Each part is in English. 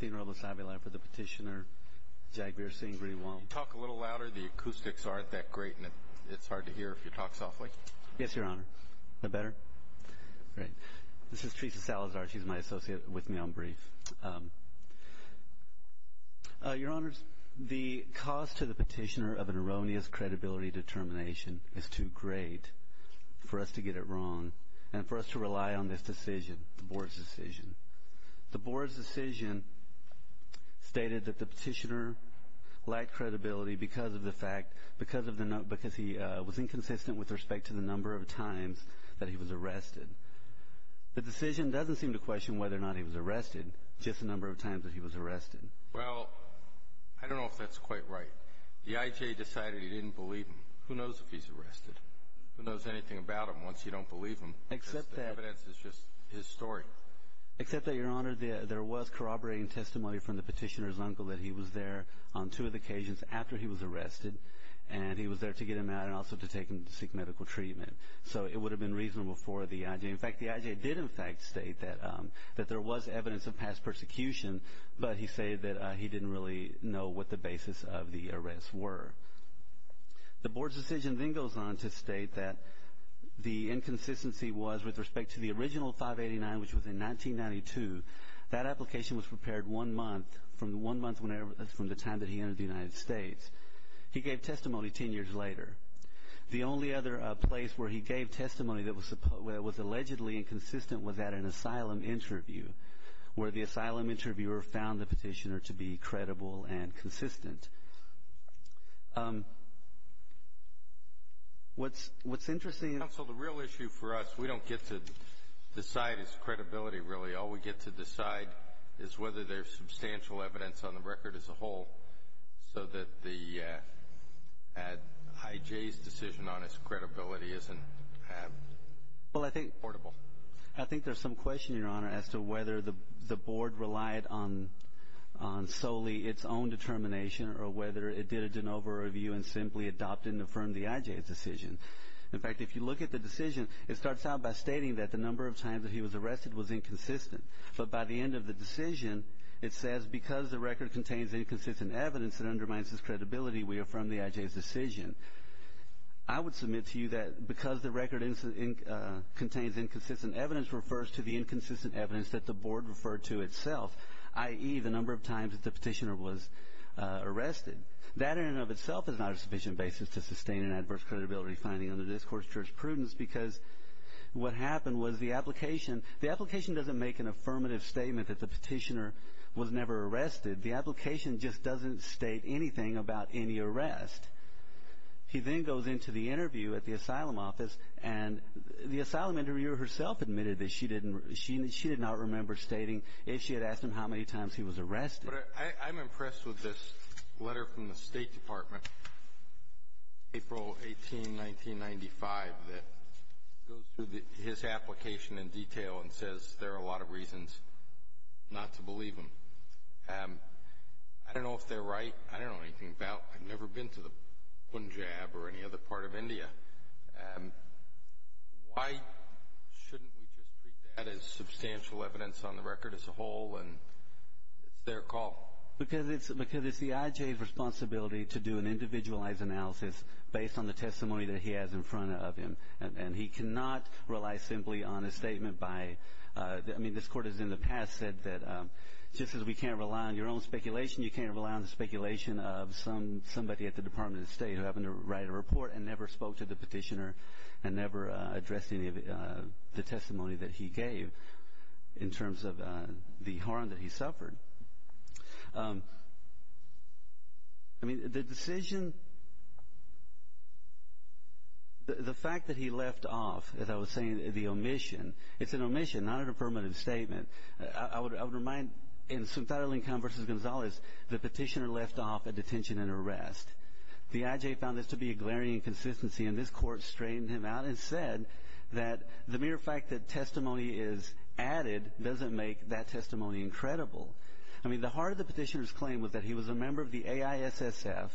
You talk a little louder, the acoustics aren't that great, and it's hard to hear if you talk softly. Yes, Your Honor. Is that better? Great. This is Teresa Salazar. She's my associate with me on brief. Your Honors, the cause to the petitioner of an erroneous credibility determination is too great for us to get it wrong and for us to rely on this decision, the Board's decision. The Board's decision stated that the petitioner lacked credibility because he was inconsistent with respect to the number of times that he was arrested. The decision doesn't seem to question whether or not he was arrested, just the number of times that he was arrested. Well, I don't know if that's quite right. The I.J. decided he didn't believe him. Who knows if he's arrested? Who knows anything about him once you don't believe him? The evidence is just his story. Except that, Your Honor, there was corroborating testimony from the petitioner's uncle that he was there on two of the occasions after he was arrested, and he was there to get him out and also to take him to seek medical treatment. So it would have been reasonable for the I.J. In fact, the I.J. did in fact state that there was evidence of past persecution, but he stated that he didn't really know what the basis of the arrest were. The Board's decision then goes on to state that the inconsistency was with respect to the original 589, which was in 1992. That application was prepared one month from the time that he entered the United States. He gave testimony ten years later. The only other place where he gave testimony that was allegedly inconsistent was at an asylum interview, where the asylum interviewer found the petitioner to be credible and consistent. Counsel, the real issue for us, we don't get to decide his credibility really. All we get to decide is whether there's substantial evidence on the record as a whole, so that the I.J.'s decision on his credibility isn't portable. I think there's some question, Your Honor, as to whether the Board relied on solely its own determination or whether it did an over-review and simply adopted and affirmed the I.J.'s decision. In fact, if you look at the decision, it starts out by stating that the number of times that he was arrested was inconsistent. But by the end of the decision, it says, because the record contains inconsistent evidence that undermines his credibility, we affirm the I.J.'s decision. I would submit to you that because the record contains inconsistent evidence refers to the inconsistent evidence that the Board referred to itself, i.e., the number of times that the petitioner was arrested. That in and of itself is not a sufficient basis to sustain an adverse credibility finding under this Court's jurisprudence, because what happened was the application... The application doesn't make an affirmative statement that the petitioner was never arrested. The application just doesn't state anything about any arrest. He then goes into the interview at the asylum office, and the asylum interviewer herself admitted that she did not remember stating if she had asked him how many times he was I'm impressed with this letter from the State Department, April 18, 1995, that goes through his application in detail and says there are a lot of reasons not to believe him. I don't know if they're right. I don't know anything about... I've never been to the Punjab or any other part of India. Why shouldn't we just treat that as substantial evidence on the record as a whole, and it's their call? Because it's the I.J.'s responsibility to do an individualized analysis based on the testimony that he has in front of him, and he cannot rely simply on a statement by... I mean, this Court has in the past said that just as we can't rely on your own speculation, you can't rely on the speculation of somebody at the Department of State who happened to write a report and never spoke to the petitioner, and never addressed any of the testimony that he gave in terms of the harm that he suffered. I mean, the decision... The fact that he left off, as I was saying, the omission, it's an omission, not a permanent statement. I would remind, in Sundar Alinkum v. Gonzalez, the petitioner left off at detention and arrest. The I.J. found this to be a glaring inconsistency, and this Court straightened him out and said that the mere fact that testimony is added doesn't make that testimony incredible. I mean, the heart of the petitioner's claim was that he was a member of the AISSF,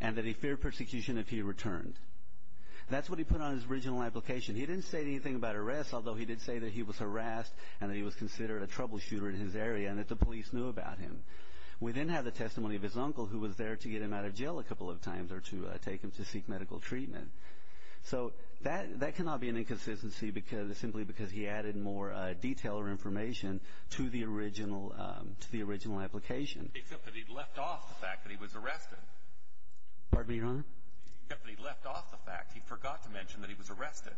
and that he feared persecution if he returned. That's what he put on his original application. He didn't say anything about arrest, although he did say that he was harassed and that he was considered a troubleshooter in his area, and that the police knew about him. We then have the testimony of his uncle, who was there to get him out of jail a couple of times, or to take him to seek medical treatment. So that cannot be an inconsistency simply because he added more detail or information to the original application. Except that he left off the fact that he was arrested. Pardon me, Your Honor? Except that he left off the fact. He forgot to mention that he was arrested.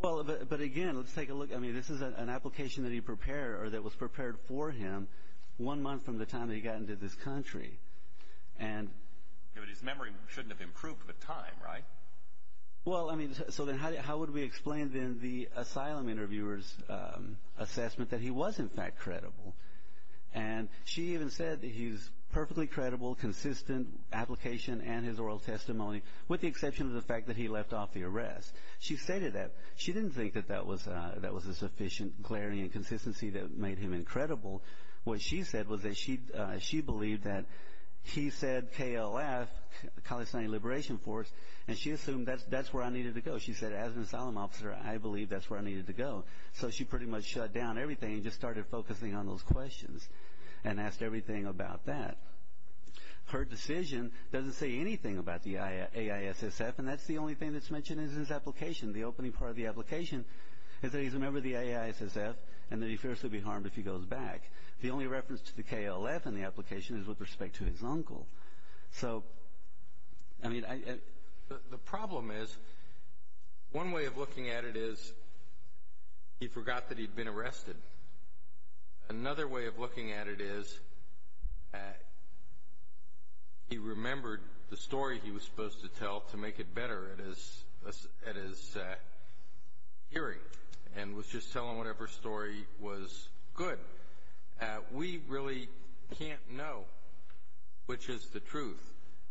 Well, but again, let's take a look. I mean, this is an application that he prepared, or that was prepared for him, one month from the time that he got into this country. And his memory shouldn't have improved with time, right? Well, I mean, so then how would we explain, then, the asylum interviewer's assessment that he was, in fact, credible? And she even said that he's perfectly credible, consistent application and his oral testimony, with the exception of the fact that he left off the arrest. She stated that. She didn't think that that was a sufficient clarity and consistency that made him incredible. What she said was that she believed that he said KLF, the Kalestani Liberation Force, and she assumed that's where I needed to go. She said, as an asylum officer, I believe that's where I needed to go. So she pretty much shut down everything and just started focusing on those questions and asked everything about that. Her decision doesn't say anything about the AISSF, and that's the only thing that's mentioned in this application. The opening part of the application is that he's a member of the AISSF and that he fears to be harmed if he goes back. The only reference to the KLF in the application is with respect to his uncle. So, I mean, I... The problem is, one way of looking at it is he forgot that he'd been arrested. Another way of looking at it is he remembered the story he was supposed to tell to make it better at his hearing and was just telling whatever story was good. We really can't know which is the truth.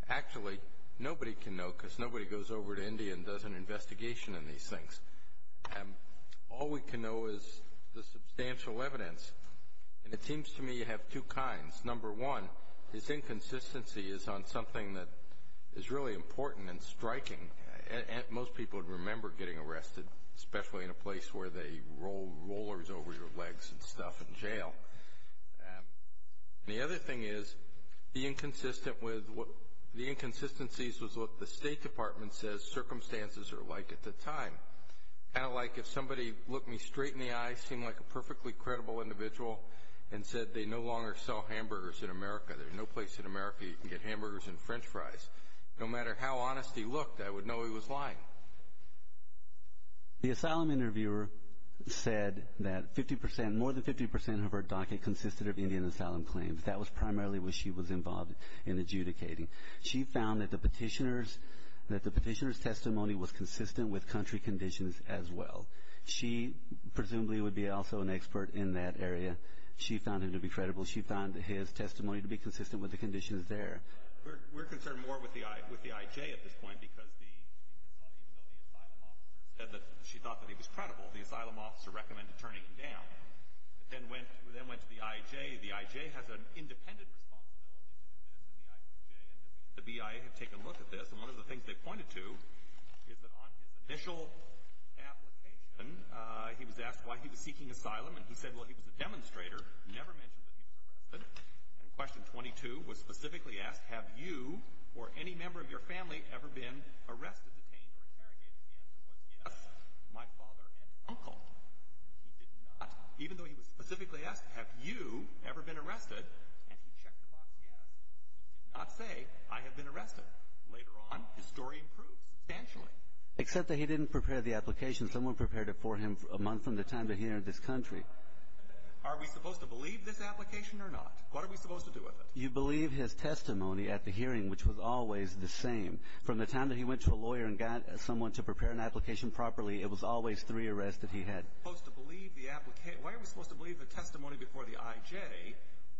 Actually, nobody can know because nobody goes over to India and does an investigation in these things. All we can know is the substantial evidence, and it seems to me you have two kinds. Number one, his inconsistency is on something that is really important and striking. Most people would remember getting arrested, especially in a place where they roll rollers over your legs and stuff in jail. The other thing is, the inconsistency is what the State Department says circumstances are like at the time. Kind of like if somebody looked me straight in the eye, seemed like a perfectly credible individual and said, they no longer sell hamburgers in America, there's no place in America you can get hamburgers and french fries. No matter how honest he looked, I would know he was lying. The asylum interviewer said that 50%, more than 50% of her docket consisted of Indian asylum claims. That was primarily what she was involved in adjudicating. She found that the petitioner's testimony was consistent with country conditions as well. She presumably would be also an expert in that area. She found him to be credible. She found his testimony to be consistent with the conditions there. We're concerned more with the IJ at this point, because even though the asylum officer said that she thought that he was credible, the asylum officer recommended turning him down. Then went to the IJ. The IJ has an independent responsibility to do this, and the IJ and the BIA have taken a look at this. One of the things they pointed to is that on his initial application, he was asked why he was seeking asylum, and he said he was a demonstrator, never mentioned that he was arrested. Question 22 was specifically asked, have you or any member of your family ever been arrested, detained, or interrogated? The answer was yes, my father and uncle. He did not, even though he was specifically asked, have you ever been arrested? And he checked the box yes. He did not say, I have been arrested. Later on, his story improved substantially. Except that he didn't prepare the application. Someone prepared it for him a month from the time that he entered this country. Are we supposed to believe this application or not? What are we supposed to do with it? You believe his testimony at the hearing, which was always the same. From the time that he went to a lawyer and got someone to prepare an application properly, it was always three arrests that he had. Why are we supposed to believe the testimony before the IJ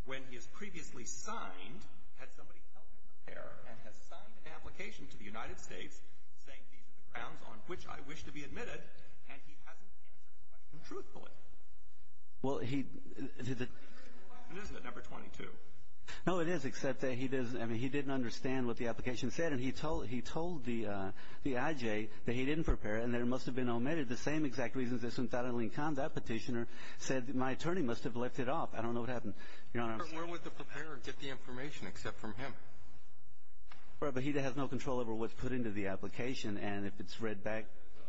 when he has previously signed? Had somebody helped him prepare and has signed an application to the United States, saying these are the grounds on which I wish to be admitted, and he hasn't answered the question truthfully? Well, he... It isn't at number 22. No, it is, except that he didn't understand what the application said, and he told the IJ that he didn't prepare it, and that it must have been omitted, the same exact reasons that Sunthana Linkan, that petitioner, said, my attorney must have left it off. I don't know what happened. Where would the preparer get the information except from him? Well, he has no control over what's put into the application, and if it's read back...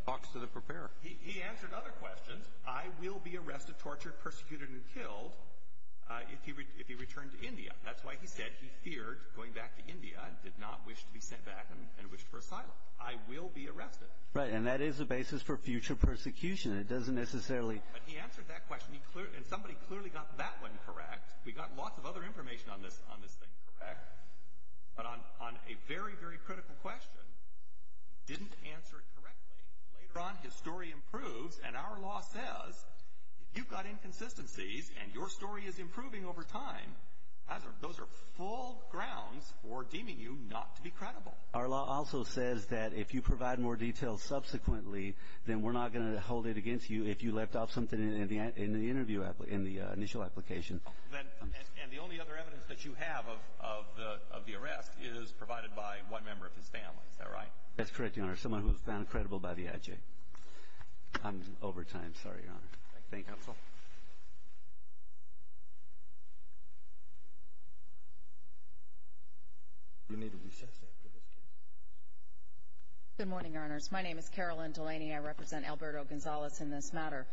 Talks to the preparer. He answered other questions. I will be arrested, tortured, persecuted, and killed if he returned to India. That's why he said he feared going back to India and did not wish to be sent back and wished for asylum. I will be arrested. Right. And that is a basis for future persecution. It doesn't necessarily... But he answered that question, and somebody clearly got that one correct. We got lots of other information on this thing correct, but on a very, very critical question, he didn't answer it correctly. Later on, his story improves, and our law says if you've got inconsistencies and your story is improving over time, those are full grounds for deeming you not to be credible. Our law also says that if you provide more detail subsequently, then we're not going to hold it against you if you left off something in the initial application. And the only other evidence that you have of the arrest is provided by one member of his family. Is that right? That's correct, Your Honor, someone who is found credible by the IJ. I'm over time. Sorry, Your Honor. Thank you, Counsel. Good morning, Your Honors. My name is Carolyn Delaney. I represent Alberto Gonzalez in this matter.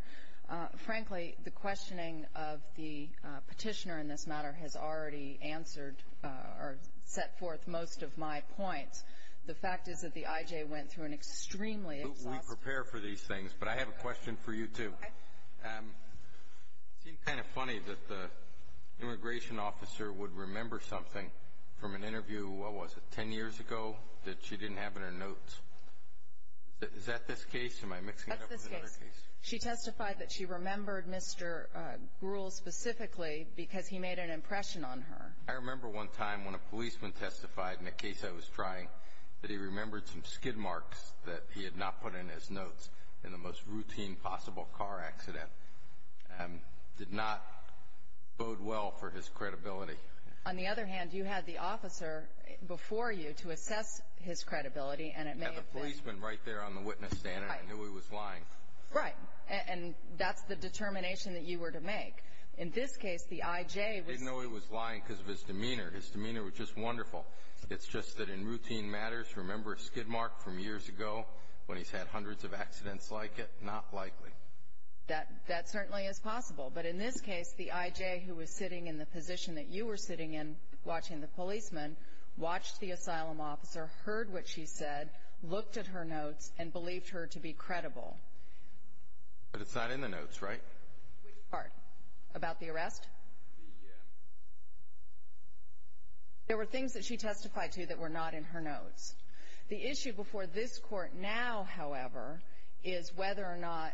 Frankly, the questioning of the petitioner in this matter has already answered or set forth most of my points. The fact is that the IJ went through an extremely exhaustive process. We prepare for these things, but I have a question for you, too. It seemed kind of funny that the immigration officer would remember something from an interview, what was it, 10 years ago, that she didn't have in her notes. Is that this case? Am I mixing it up with another case? That's this case. She testified that she remembered Mr. Gruhl specifically because he made an impression on her. I remember one time when a policeman testified in a case I was trying, that he remembered some skid marks that he had not put in his notes in the most routine possible car accident and did not bode well for his credibility. On the other hand, you had the officer before you to assess his credibility and it may have been. I had the policeman right there on the witness stand and I knew he was lying. Right. And that's the determination that you were to make. In this case, the IJ was... I didn't know he was lying because of his demeanor. His demeanor was just wonderful. It's just that in routine matters, remember a skid mark from years ago when he's had hundreds of accidents like it? Not likely. That certainly is possible. But in this case, the IJ who was sitting in the position that you were sitting in, watching the policeman, watched the asylum officer, heard what she said, looked at her notes and believed her to be credible. But it's not in the notes, right? Which part? About the arrest? The... There were things that she testified to that were not in her notes. The issue before this Court now, however, is whether or not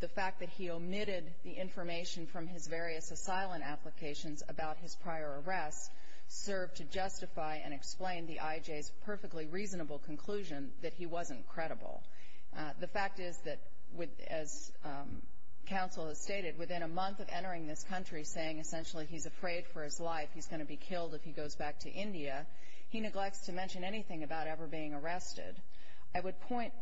the fact that he omitted the information from his various asylum applications about his prior arrest served to justify and explain the IJ's perfectly reasonable conclusion that he wasn't credible. The fact is that as counsel has stated, within a month of entering this country saying essentially he's afraid for his life, he's going to be killed if he goes back to India, he neglects to mention anything about ever being arrested. I would point,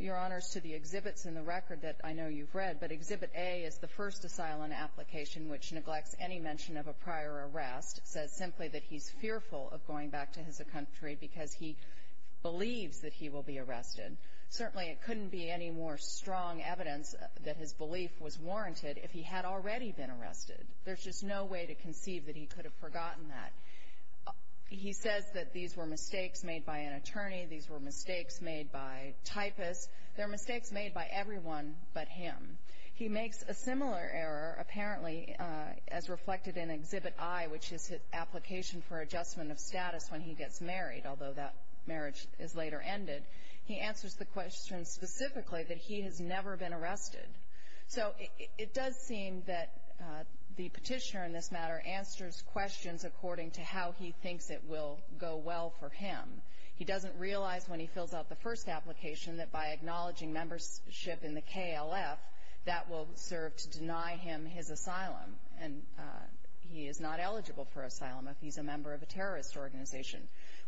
Your Honors, to the exhibits in the record that I know you've read, but Exhibit A is the first asylum application which neglects any mention of a prior arrest, says simply that he's fearful of going back to his country because he believes that he will be arrested. Certainly, it couldn't be any more strong evidence that his belief was warranted if he had already been arrested. There's just no way to conceive that he could have forgotten that. He says that these were mistakes made by an attorney. These were mistakes made by typists. They're mistakes made by everyone but him. He makes a similar error, apparently, as reflected in Exhibit I, which is his application for adjustment of status when he gets married, although that marriage is later ended. He answers the question specifically that he has never been arrested. So it does seem that the petitioner in this matter answers questions according to how he thinks it will go well for him. He doesn't realize when he fills out the first application that by acknowledging membership in the KLF, that will serve to deny him his asylum, and he is not eligible for asylum if he's a member of a terrorist organization.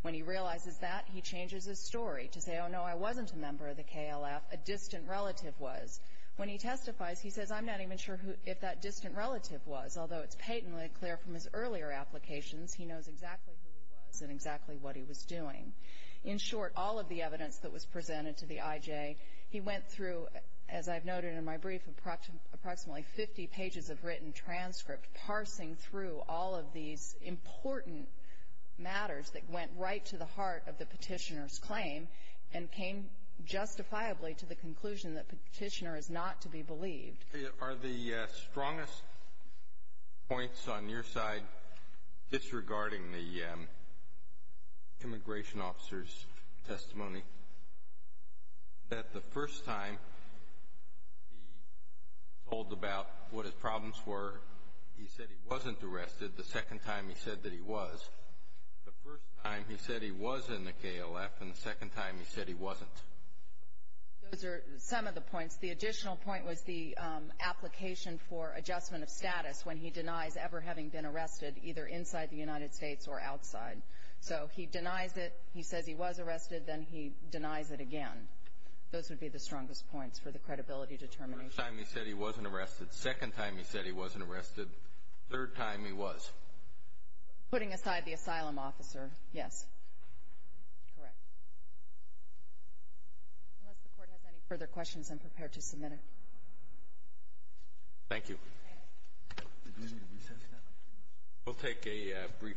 When he realizes that, he changes his story to say, oh, no, I wasn't a member of the KLF, a distant relative was. When he testifies, he says, I'm not even sure if that distant relative was, although it's patently clear from his earlier applications he knows exactly who he was and exactly what he was doing. In short, all of the evidence that was presented to the IJ, he went through, as I've noted in my brief, approximately 50 pages of written transcript, parsing through all of these important matters that went right to the heart of the petitioner's claim and came justifiably to the conclusion that the petitioner is not to be believed. Are the strongest points on your side disregarding the immigration officer's testimony that the first time he told about what his problems were, he said he wasn't arrested, the second time he said that he was, the first time he said he was in the KLF, and the second time he said he wasn't? Those are some of the points. The additional point was the application for adjustment of status when he denies ever having been arrested, either inside the United States or outside. So he denies it, he says he was arrested, then he denies it again. Those would be the strongest points for the credibility determination. The first time he said he wasn't arrested, second time he said he wasn't arrested, third time he was. Putting aside the asylum officer, yes. Correct. Unless the Court has any further questions, I'm prepared to submit it. Thank you. Do we need a recess now? We'll take a brief recess.